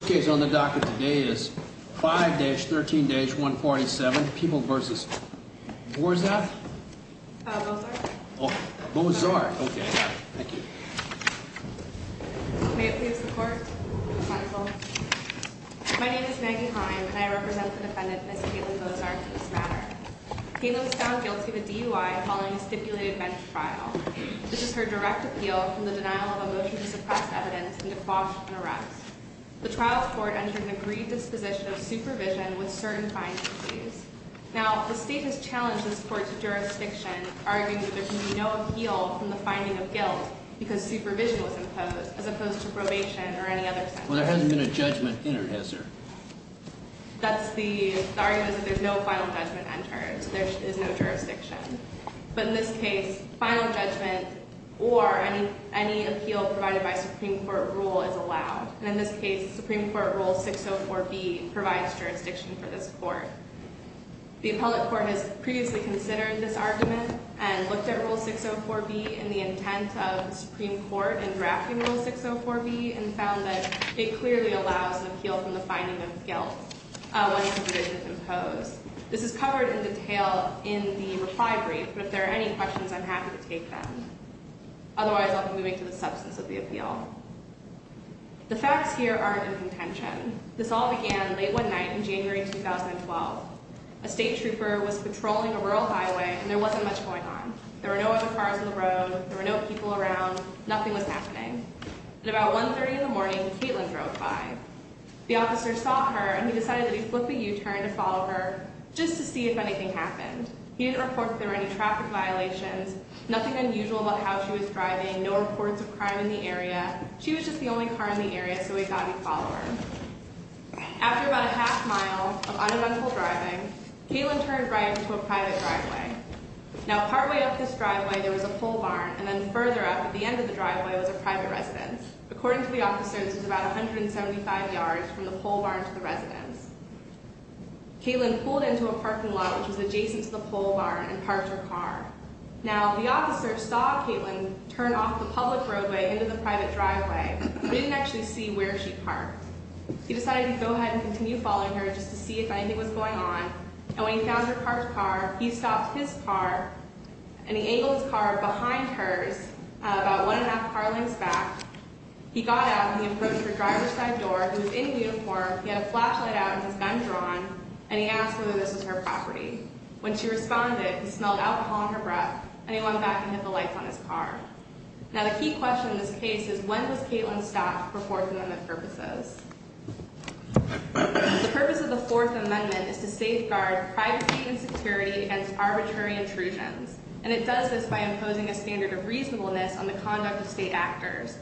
The case on the docket today is 5-13-147, People v. Bozarth. My name is Maggie Heim and I represent the defendant Ms. Caitlin Bozarth in this matter. Caitlin was found guilty of a DUI following a stipulated bench trial. This is her direct appeal from the denial of a motion to suppress evidence and to quash an arrest. The trial court entered an agreed disposition of supervision with certain findings. Now, the state has challenged this court's jurisdiction, arguing that there can be no appeal from the finding of guilt because supervision was imposed, as opposed to probation or any other sentence. Well, there hasn't been a judgment entered, has there? That's the argument that there's no final judgment entered, so there is no jurisdiction. But in this case, final judgment or any appeal provided by Supreme Court rule is allowed. And in this case, Supreme Court Rule 604B provides jurisdiction for this court. The appellate court has previously considered this argument and looked at Rule 604B and the intent of the Supreme Court in drafting Rule 604B and found that it clearly allows an appeal from the finding of guilt when supervision is imposed. This is covered in detail in the reply brief, but if there are any questions, I'm happy to take them. Otherwise, I'll be moving to the substance of the appeal. The facts here aren't in contention. This all began late one night in January 2012. A state trooper was patrolling a rural highway and there wasn't much going on. There were no other cars on the road. There were no people around. Nothing was happening. At about 1.30 in the morning, Caitlin drove by. The officer saw her and he decided that he'd flip a U-turn to follow her just to see if anything happened. He didn't report that there were any traffic violations, nothing unusual about how she was driving, no reports of crime in the area. She was just the only car in the area, so he thought he'd follow her. After about a half mile of uneventful driving, Caitlin turned right into a private driveway. Now, partway up this driveway, there was a pole barn, and then further up at the end of the driveway was a private residence. According to the officer, this was about 175 yards from the pole barn to the residence. Caitlin pulled into a parking lot, which was adjacent to the pole barn, and parked her car. Now, the officer saw Caitlin turn off the public roadway into the private driveway, but he didn't actually see where she parked. He decided to go ahead and continue following her just to see if anything was going on, and when he found her parked car, he stopped his car, and he angled his car behind hers about one and a half car lengths back. He got out, and he approached her driver's side door, who was in uniform. He had a flashlight out and his gun drawn, and he asked whether this was her property. When she responded, he smelled alcohol on her breath, and he went back and hit the lights on his car. Now, the key question in this case is, when was Caitlin stopped for Fourth Amendment purposes? The purpose of the Fourth Amendment is to safeguard privacy and security against arbitrary intrusions, and it does this by imposing a standard of reasonableness on the conduct of state actors.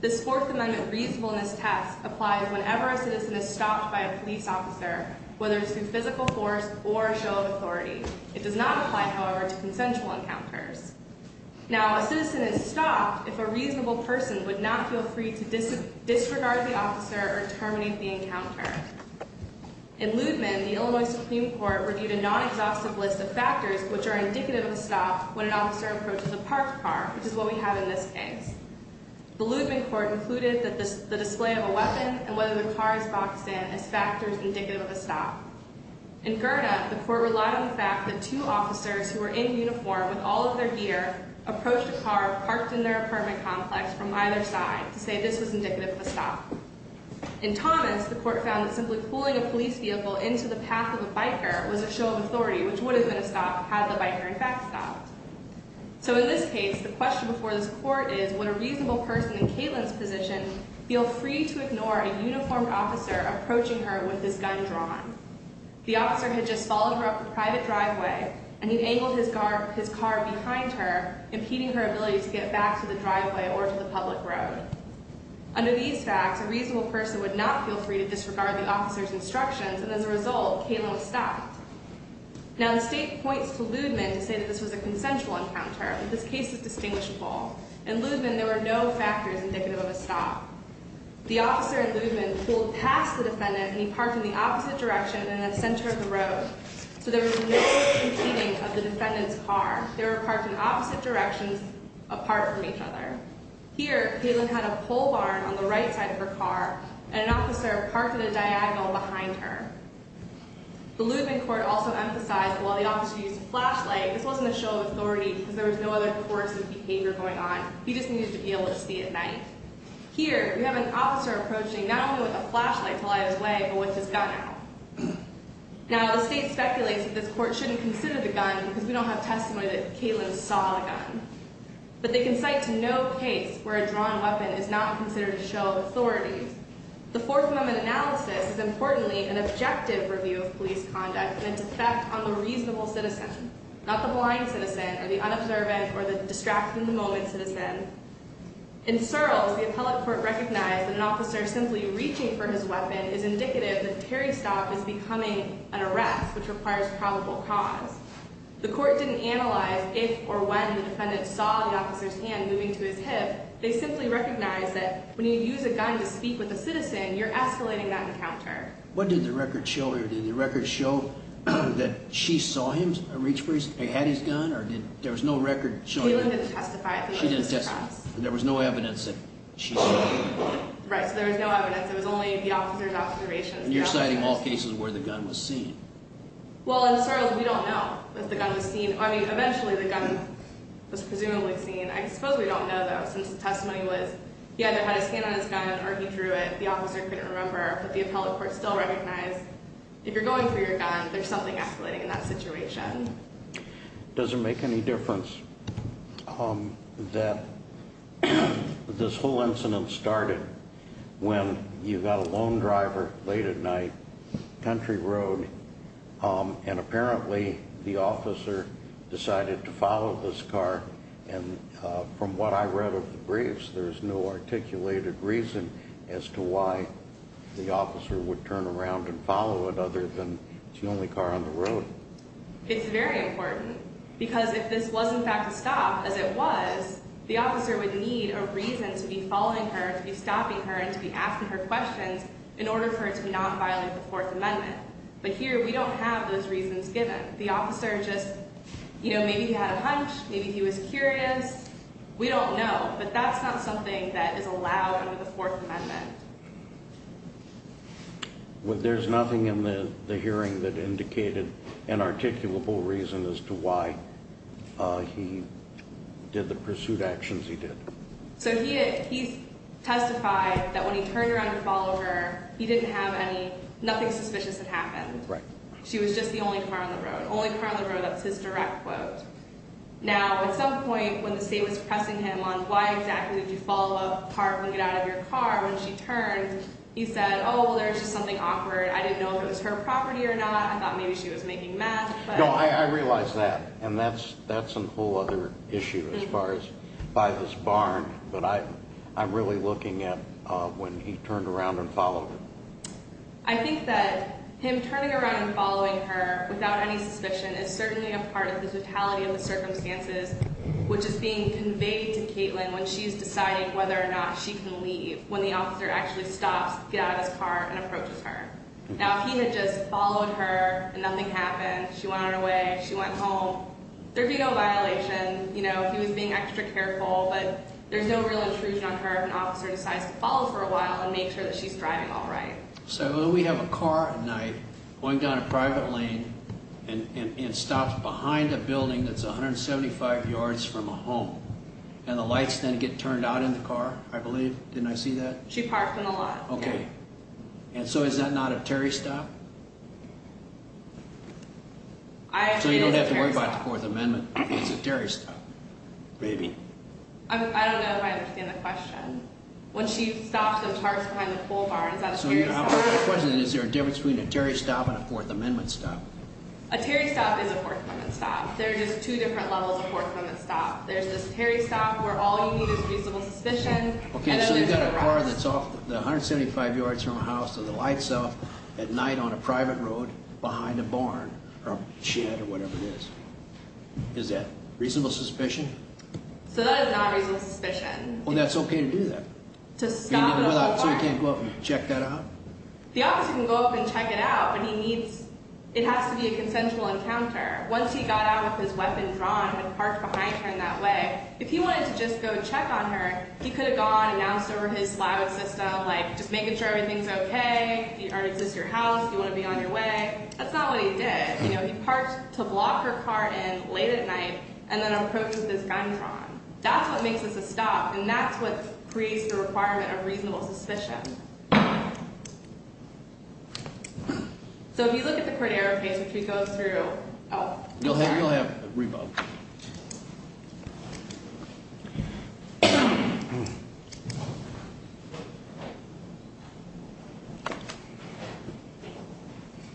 This Fourth Amendment reasonableness test applies whenever a citizen is stopped by a police officer, whether it's through physical force or a show of authority. It does not apply, however, to consensual encounters. Now, a citizen is stopped if a reasonable person would not feel free to disregard the officer or terminate the encounter. In Ludeman, the Illinois Supreme Court reviewed a non-exhaustive list of factors which are indicative of a stop when an officer approaches a parked car, which is what we have in this case. The Ludeman court included the display of a weapon and whether the car is boxed in as factors indicative of a stop. In Gerda, the court relied on the fact that two officers who were in uniform with all of their gear approached a car parked in their apartment complex from either side to say this was indicative of a stop. In Thomas, the court found that simply pulling a police vehicle into the path of a biker was a show of authority, which would have been a stop had the biker in fact stopped. So in this case, the question before this court is, would a reasonable person in Caitlin's position feel free to ignore a uniformed officer approaching her with his gun drawn? The officer had just followed her up a private driveway, and he'd angled his car behind her, impeding her ability to get back to the driveway or to the public road. Under these facts, a reasonable person would not feel free to disregard the officer's instructions, and as a result, Caitlin was stopped. Now, the state points to Ludeman to say that this was a consensual encounter, but this case is distinguishable. In Ludeman, there were no factors indicative of a stop. The officer in Ludeman pulled past the defendant, and he parked in the opposite direction and in the center of the road, so there was no competing of the defendant's car. They were parked in opposite directions apart from each other. Here, Caitlin had a pole barn on the right side of her car, and an officer parked at a diagonal behind her. The Ludeman court also emphasized that while the officer used a flashlight, this wasn't a show of authority because there was no other coercive behavior going on. He just needed to be able to see at night. Here, we have an officer approaching not only with a flashlight to light his way, but with his gun out. Now, the state speculates that this court shouldn't consider the gun because we don't have testimony that Caitlin saw the gun, but they can cite to no case where a drawn weapon is not considered a show of authority. The Fourth Amendment analysis is, importantly, an objective review of police conduct and its effect on the reasonable citizen, not the blind citizen or the unobservant or the distracted-in-the-moment citizen. In Searles, the appellate court recognized that an officer simply reaching for his weapon is indicative that Terry Stock is becoming an arrest, which requires probable cause. The court didn't analyze if or when the defendant saw the officer's hand moving to his hip. They simply recognized that when you use a gun to speak with a citizen, you're escalating that encounter. What did the record show here? Did the record show that she saw him reach for his—he had his gun, or did—there was no record showing that? Caitlin didn't testify. She didn't testify. There was no evidence that she saw him. Right, so there was no evidence. It was only the officer's observations. You're citing all cases where the gun was seen. Well, in Searles, we don't know if the gun was seen. I mean, eventually, the gun was presumably seen. I suppose we don't know, though, since the testimony was he either had his hand on his gun or he drew it. But the officer couldn't remember, but the appellate court still recognized, if you're going for your gun, there's something escalating in that situation. Does it make any difference that this whole incident started when you got a lone driver late at night, country road, and apparently the officer decided to follow this car? And from what I read of the briefs, there's no articulated reason as to why the officer would turn around and follow it, other than it's the only car on the road. It's very important, because if this was, in fact, a stop, as it was, the officer would need a reason to be following her, to be stopping her, and to be asking her questions in order for her to not violate the Fourth Amendment. But here, we don't have those reasons given. The officer just, you know, maybe he had a hunch, maybe he was curious. We don't know, but that's not something that is allowed under the Fourth Amendment. There's nothing in the hearing that indicated an articulable reason as to why he did the pursuit actions he did. So he testified that when he turned around to follow her, he didn't have any, nothing suspicious had happened. Right. She was just the only car on the road. Only car on the road, that's his direct quote. Now, at some point, when the state was pressing him on why exactly did you follow a car when you got out of your car, when she turned, he said, oh, well, there was just something awkward. I didn't know if it was her property or not. I thought maybe she was making math. No, I realize that, and that's a whole other issue as far as by this barn. But I'm really looking at when he turned around and followed her. I think that him turning around and following her without any suspicion is certainly a part of the totality of the circumstances, which is being conveyed to Caitlin when she's deciding whether or not she can leave, when the officer actually stops to get out of his car and approaches her. Now, if he had just followed her and nothing happened, she went on her way, she went home, there'd be no violation. You know, if he was being extra careful, but there's no real intrusion on her if an officer decides to follow for a while and make sure that she's driving all right. So we have a car at night going down a private lane and stops behind a building that's 175 yards from a home, and the lights then get turned out in the car, I believe. Didn't I see that? She parked in the lot. Okay. And so is that not a Terry stop? So you don't have to worry about the Fourth Amendment. Maybe. I don't know if I understand the question. When she stops and parks behind the coal barn, is that a Terry stop? So the question is, is there a difference between a Terry stop and a Fourth Amendment stop? A Terry stop is a Fourth Amendment stop. There are just two different levels of Fourth Amendment stop. There's this Terry stop where all you need is reasonable suspicion. Okay, so you've got a car that's 175 yards from a house and the lights off at night on a private road behind a barn or a shed or whatever it is. Is that reasonable suspicion? So that is not reasonable suspicion. Well, that's okay to do that. To stop at a coal barn. So he can't go up and check that out? The officer can go up and check it out, but he needs – it has to be a consensual encounter. Once he got out with his weapon drawn and parked behind her in that way, if he wanted to just go check on her, he could have gone and asked over his law system, like, just making sure everything's okay, does this your house, do you want to be on your way? That's not what he did. He parked to block her car in late at night and then approached with his gun drawn. That's what makes this a stop, and that's what creates the requirement of reasonable suspicion. So if you look at the Cordero case, which we go through – oh. You'll have a rebuttal.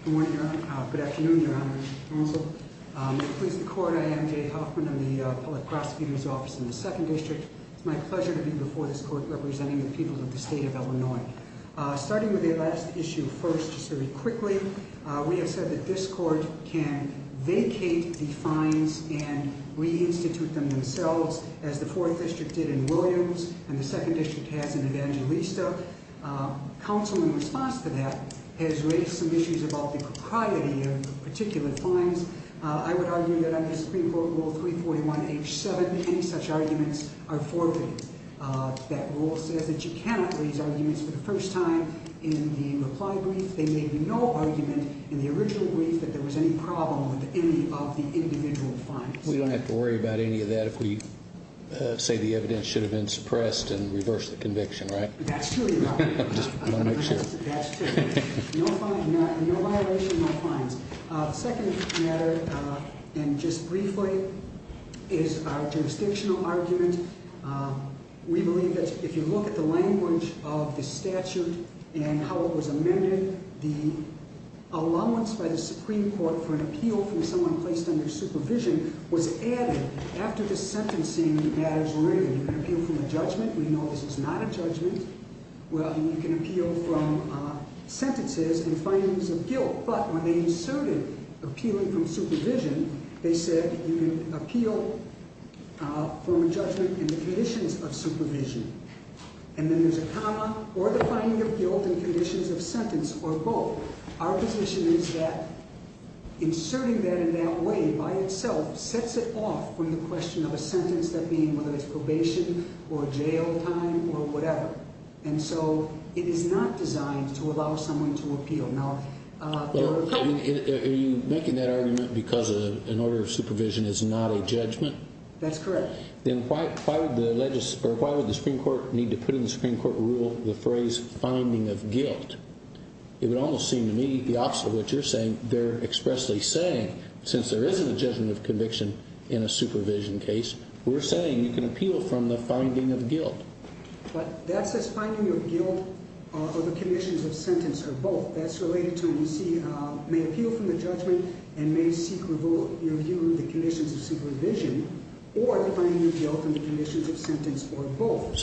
Good morning, Your Honor. Good afternoon, Your Honor. With the court, I am Jay Hoffman. I'm the public prosecutor's office in the Second District. It's my pleasure to be before this court representing the people of the state of Illinois. Starting with the last issue first, just very quickly, we have said that this court can vacate the fines and reinstitute them themselves, as the Fourth District did in Williams and the Second District has in Evangelista. Counsel, in response to that, has raised some issues about the propriety of particular fines. I would argue that under Supreme Court Rule 341H7, any such arguments are forfeited. That rule says that you cannot raise arguments for the first time in the reply brief. There may be no argument in the original brief that there was any problem with any of the individual fines. We don't have to worry about any of that if we say the evidence should have been suppressed and reversed the conviction, right? That's true, Your Honor. I just want to make sure. That's true. No violation, no fines. The second matter, and just briefly, is our jurisdictional argument. We believe that if you look at the language of the statute and how it was amended, the allowance by the Supreme Court for an appeal from someone placed under supervision was added. After the sentencing, the matters were amended. You can appeal from a judgment. We know this is not a judgment. Well, you can appeal from sentences and findings of guilt, but when they inserted appealing from supervision, they said you can appeal from a judgment in the conditions of supervision. And then there's a comma, or the finding of guilt in conditions of sentence, or both. Our position is that inserting that in that way by itself sets it off from the question of a sentence, that being whether it's probation or jail time or whatever. And so it is not designed to allow someone to appeal. Are you making that argument because an order of supervision is not a judgment? That's correct. Then why would the Supreme Court need to put in the Supreme Court rule the phrase finding of guilt? It would almost seem to me the opposite of what you're saying. They're expressly saying, since there isn't a judgment of conviction in a supervision case, we're saying you can appeal from the finding of guilt. But that says finding of guilt or the conditions of sentence or both. That's related to, you see, may appeal from the judgment and may seek review of the conditions of supervision or the finding of guilt in the conditions of sentence or both.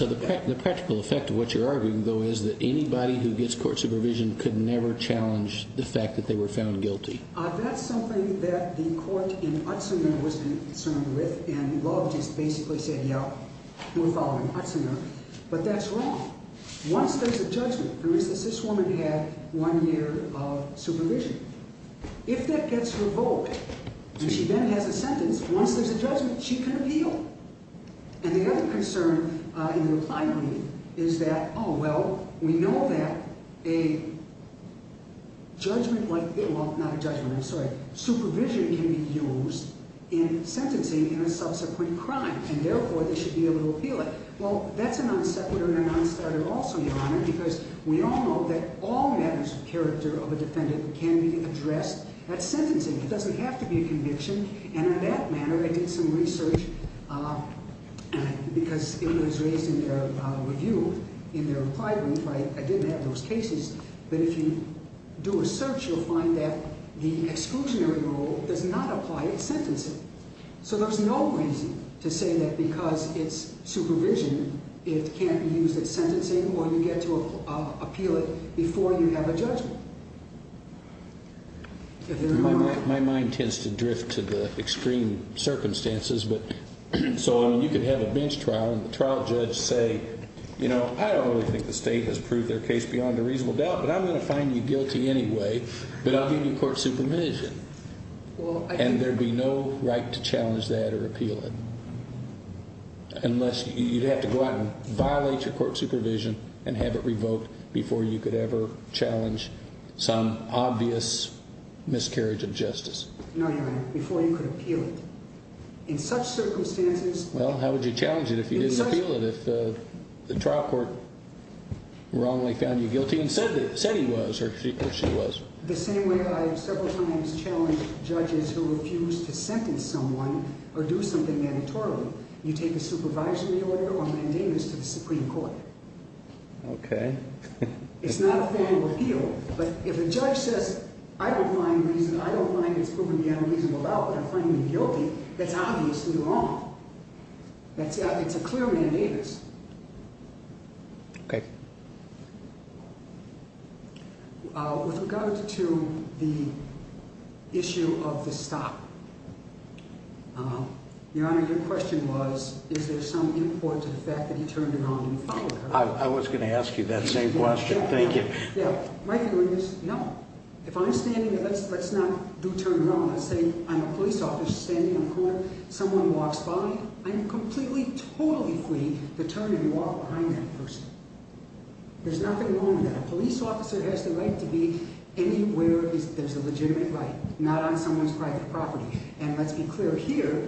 Your argument is that anybody who gets court supervision could never challenge the fact that they were found guilty. That's something that the court in Utsina was concerned with, and the law just basically said, yeah, we're following Utsina. But that's wrong. Once there's a judgment, for instance, this woman had one year of supervision. If that gets revoked and she then has a sentence, once there's a judgment, she can appeal. And the other concern in the reply rule is that, oh, well, we know that a judgment like this – well, not a judgment, I'm sorry – supervision can be used in sentencing in a subsequent crime, and therefore they should be able to appeal it. Well, that's a non-separator and a non-starter also, Your Honor, because we all know that all matters of character of a defendant can be addressed at sentencing. It doesn't have to be a conviction. And in that manner, I did some research because it was raised in their review in their reply rule. I didn't have those cases. But if you do a search, you'll find that the exclusionary rule does not apply at sentencing. So there's no reason to say that because it's supervision, it can't be used at sentencing or you get to appeal it before you have a judgment. My mind tends to drift to the extreme circumstances. So, I mean, you could have a bench trial and the trial judge say, you know, I don't really think the state has proved their case beyond a reasonable doubt, but I'm going to find you guilty anyway, but I'll give you court supervision. And there'd be no right to challenge that or appeal it, unless you'd have to go out and violate your court supervision and have it revoked before you could ever challenge some obvious miscarriage of justice. No, Your Honor, before you could appeal it. In such circumstances, Well, how would you challenge it if you didn't appeal it, if the trial court wrongly found you guilty and said he was or she was? The same way I have several times challenged judges who refuse to sentence someone or do something mandatorily. You take a supervisory order or mandamus to the Supreme Court. Okay. It's not a family appeal, but if a judge says, I don't find it's proven beyond a reasonable doubt, but I'm finding you guilty, that's obviously wrong. It's a clear mandamus. Okay. With regard to the issue of the stop, Your Honor, your question was, is there some import to the fact that he turned around and followed her? I was going to ask you that same question. Thank you. My view is, no. If I'm standing there, let's not do turn around. Let's say I'm a police officer standing on the corner, someone walks by, I'm completely, totally free to turn and walk behind that person. There's nothing wrong with that. A police officer has the right to be anywhere there's a legitimate right, not on someone's private property. And let's be clear here,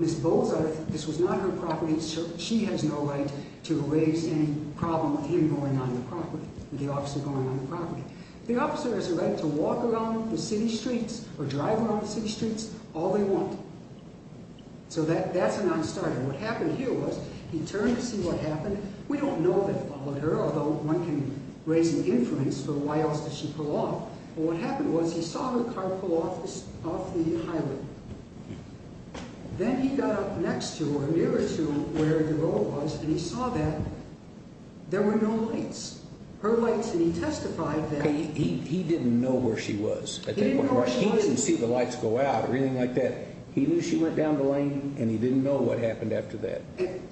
Ms. Boza, this was not her property. She has no right to raise any problem with him going on the property, with the officer going on the property. The officer has the right to walk along the city streets or drive along the city streets all they want. So that's a non-starter. What happened here was he turned to see what happened. We don't know if he followed her, although one can raise an inference for why else did she pull off. What happened was he saw her car pull off the highway. Then he got up next to or nearer to where DeRoe was, and he saw that there were no lights. Her lights, and he testified that. He didn't know where she was. He didn't know where she was. He didn't see the lights go out or anything like that. He knew she went down the lane, and he didn't know what happened after that.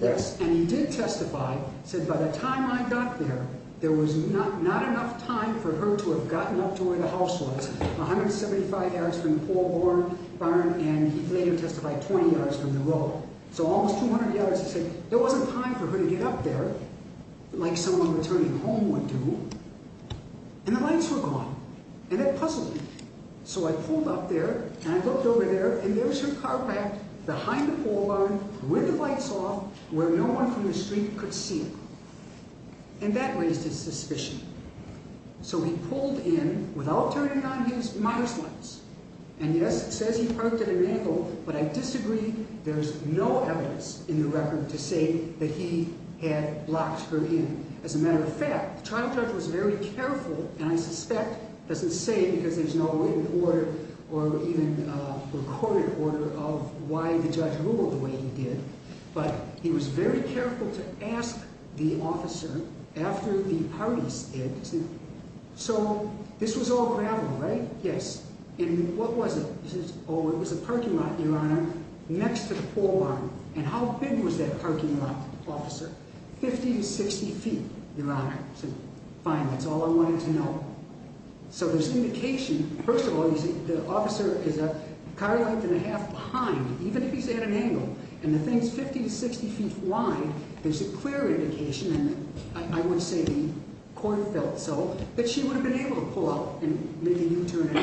Yes, and he did testify. He said, by the time I got there, there was not enough time for her to have gotten up to where the house was, 175 yards from the pole barn, and he later testified 20 yards from DeRoe. So almost 200 yards. He said there wasn't time for her to get up there like someone returning home would do, and the lights were gone, and it puzzled me. So I pulled up there, and I looked over there, and there's her car back behind the pole barn with the lights off where no one from the street could see her, and that raised his suspicion. So he pulled in without turning on his mother's lights, and yes, it says he parked at an angle, but I disagree. There's no evidence in the record to say that he had locked her in. As a matter of fact, the trial judge was very careful, and I suspect doesn't say because there's no written order or even recorded order of why the judge ruled the way he did, but he was very careful to ask the officer after the parties did. So this was all gravel, right? Yes. And what was it? He says, oh, it was a parking lot, Your Honor, next to the pole barn. And how big was that parking lot, officer? 50 to 60 feet, Your Honor. I said, fine, that's all I wanted to know. So there's indication. First of all, the officer is a car length and a half behind, even if he's at an angle, and the thing's 50 to 60 feet wide. There's a clear indication, and I would say the corn felt so, that she would have been able to pull out and make a U-turn.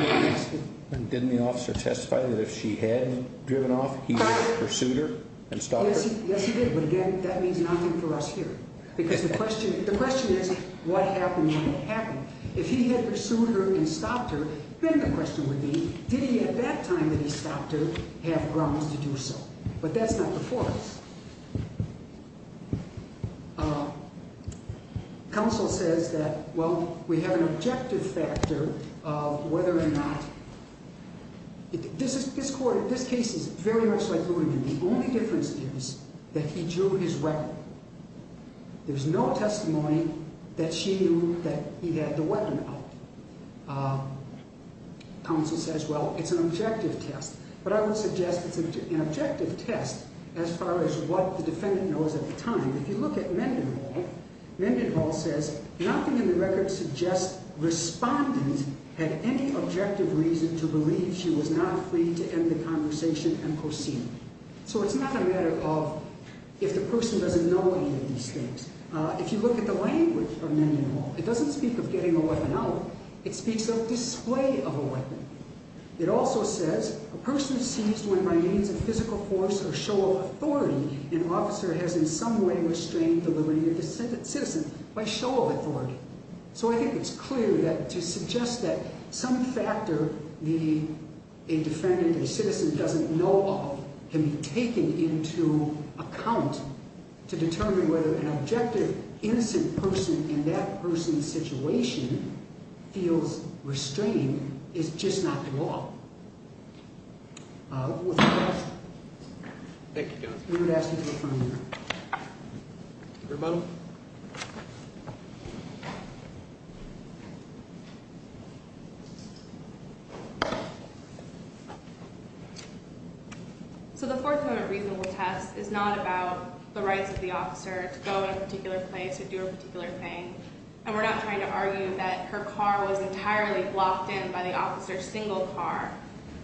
And didn't the officer testify that if she had driven off, he would have pursued her and stopped her? Yes, he did. But again, that means nothing for us here because the question is what happened when it happened. If he had pursued her and stopped her, then the question would be, did he at that time that he stopped her have grounds to do so? But that's not before us. Counsel says that, well, we have an objective factor of whether or not. This case is very much like Luderman. The only difference is that he drew his weapon. There's no testimony that she knew that he had the weapon out. Counsel says, well, it's an objective test. But I would suggest it's an objective test as far as what the defendant knows at the time. If you look at Mendenhall, Mendenhall says, nothing in the record suggests respondents had any objective reason to believe she was not free to end the conversation and proceed. So it's not a matter of if the person doesn't know any of these things. If you look at the language of Mendenhall, it doesn't speak of getting a weapon out. It speaks of display of a weapon. It also says, a person seized when by means of physical force or show of authority, an officer has in some way restrained the liberty of the citizen by show of authority. So I think it's clear that to suggest that some factor a defendant, a citizen doesn't know of, can be taken into account to determine whether an objective, innocent person in that person's situation feels restrained is just not the law. With that, we would ask you to affirm your amendment. Rebuttal. So the Fourth Amendment reasonable test is not about the rights of the officer to go to a particular place or do a particular thing. And we're not trying to argue that her car was entirely blocked in by the officer's single car.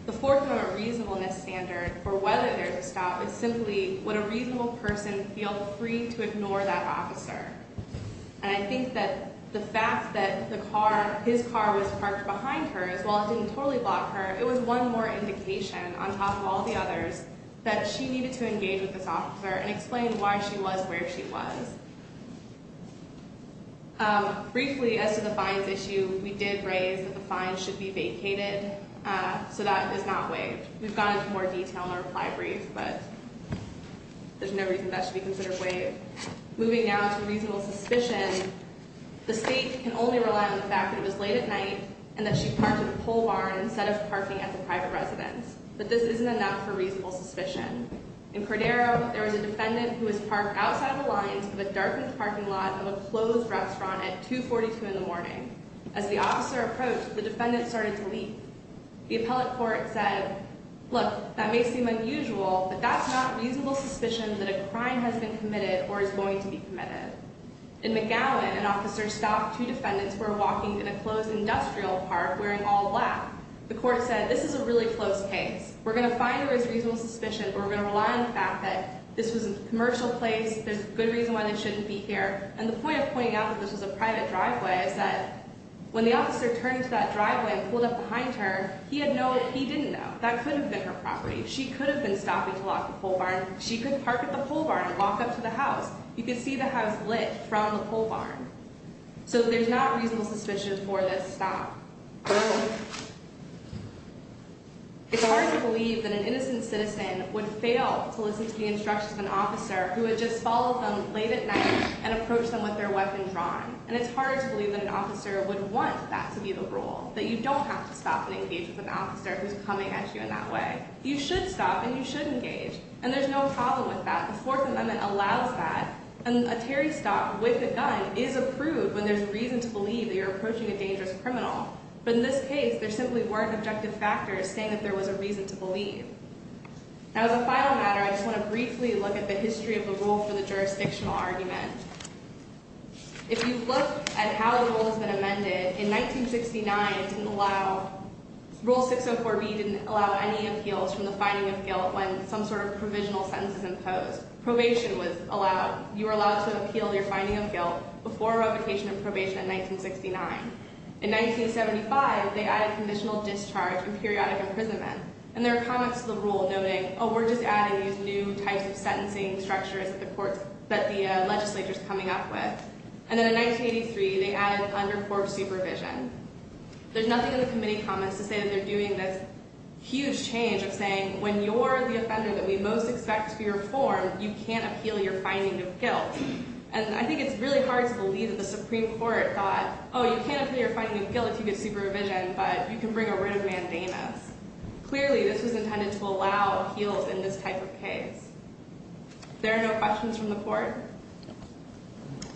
The Fourth Amendment reasonableness standard for whether there's a stop is simply would a reasonable person feel free to ignore that officer. And I think that the fact that the car, his car was parked behind her as well as didn't totally block her, it was one more indication on top of all the others that she needed to engage with this officer and explain why she was where she was. Briefly, as to the fines issue, we did raise that the fines should be vacated. So that is not waived. We've gone into more detail in our reply brief, but there's no reason that should be considered waived. Moving now to reasonable suspicion, the state can only rely on the fact that it was late at night and that she parked at a pole barn instead of parking at the private residence. But this isn't enough for reasonable suspicion. In Cordero, there was a defendant who was parked outside the lines of a darkened parking lot of a closed restaurant at 242 in the morning. As the officer approached, the defendant started to leap. The appellate court said, look, that may seem unusual, but that's not reasonable suspicion that a crime has been committed or is going to be committed. In McGowan, an officer stopped two defendants who were walking in a closed industrial park wearing all black. The court said, this is a really close case. We're going to fine her as reasonable suspicion, but we're going to rely on the fact that this was a commercial place. There's a good reason why they shouldn't be here. And the point of pointing out that this was a private driveway is that when the officer turned to that driveway and pulled up behind her, he didn't know. That could have been her property. She could have been stopping to lock the pole barn. She could park at the pole barn and walk up to the house. You could see the house lit from the pole barn. So there's not reasonable suspicion for this stop. It's hard to believe that an innocent citizen would fail to listen to the instructions of an officer who had just followed them late at night and approached them with their weapon drawn. And it's hard to believe that an officer would want that to be the rule, that you don't have to stop and engage with an officer who's coming at you in that way. You should stop and you should engage. And there's no problem with that. A fourth amendment allows that. And a Terry stop with a gun is approved when there's reason to believe that you're approaching a dangerous criminal. But in this case, there simply weren't objective factors saying that there was a reason to believe. Now, as a final matter, I just want to briefly look at the history of the rule for the jurisdictional argument. If you look at how the rule has been amended, in 1969, Rule 604B didn't allow any appeals from the finding of guilt when some sort of provisional sentence is imposed. Probation was allowed. You were allowed to appeal your finding of guilt before revocation and probation in 1969. In 1975, they added conditional discharge and periodic imprisonment. And there are comments to the rule noting, oh, we're just adding these new types of sentencing structures that the legislature is coming up with. And then in 1983, they added undercourt supervision. There's nothing in the committee comments to say that they're doing this huge change of saying, when you're the offender that we most expect to be reformed, you can't appeal your finding of guilt. And I think it's really hard to believe that the Supreme Court thought, oh, you can't appeal your finding of guilt if you get supervision, but you can bring a writ of mandamus. Clearly, this was intended to allow appeals in this type of case. If there are no questions from the court.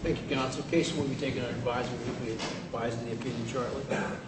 Thank you, counsel. Case will be taken under advisory of the Appeals Charter.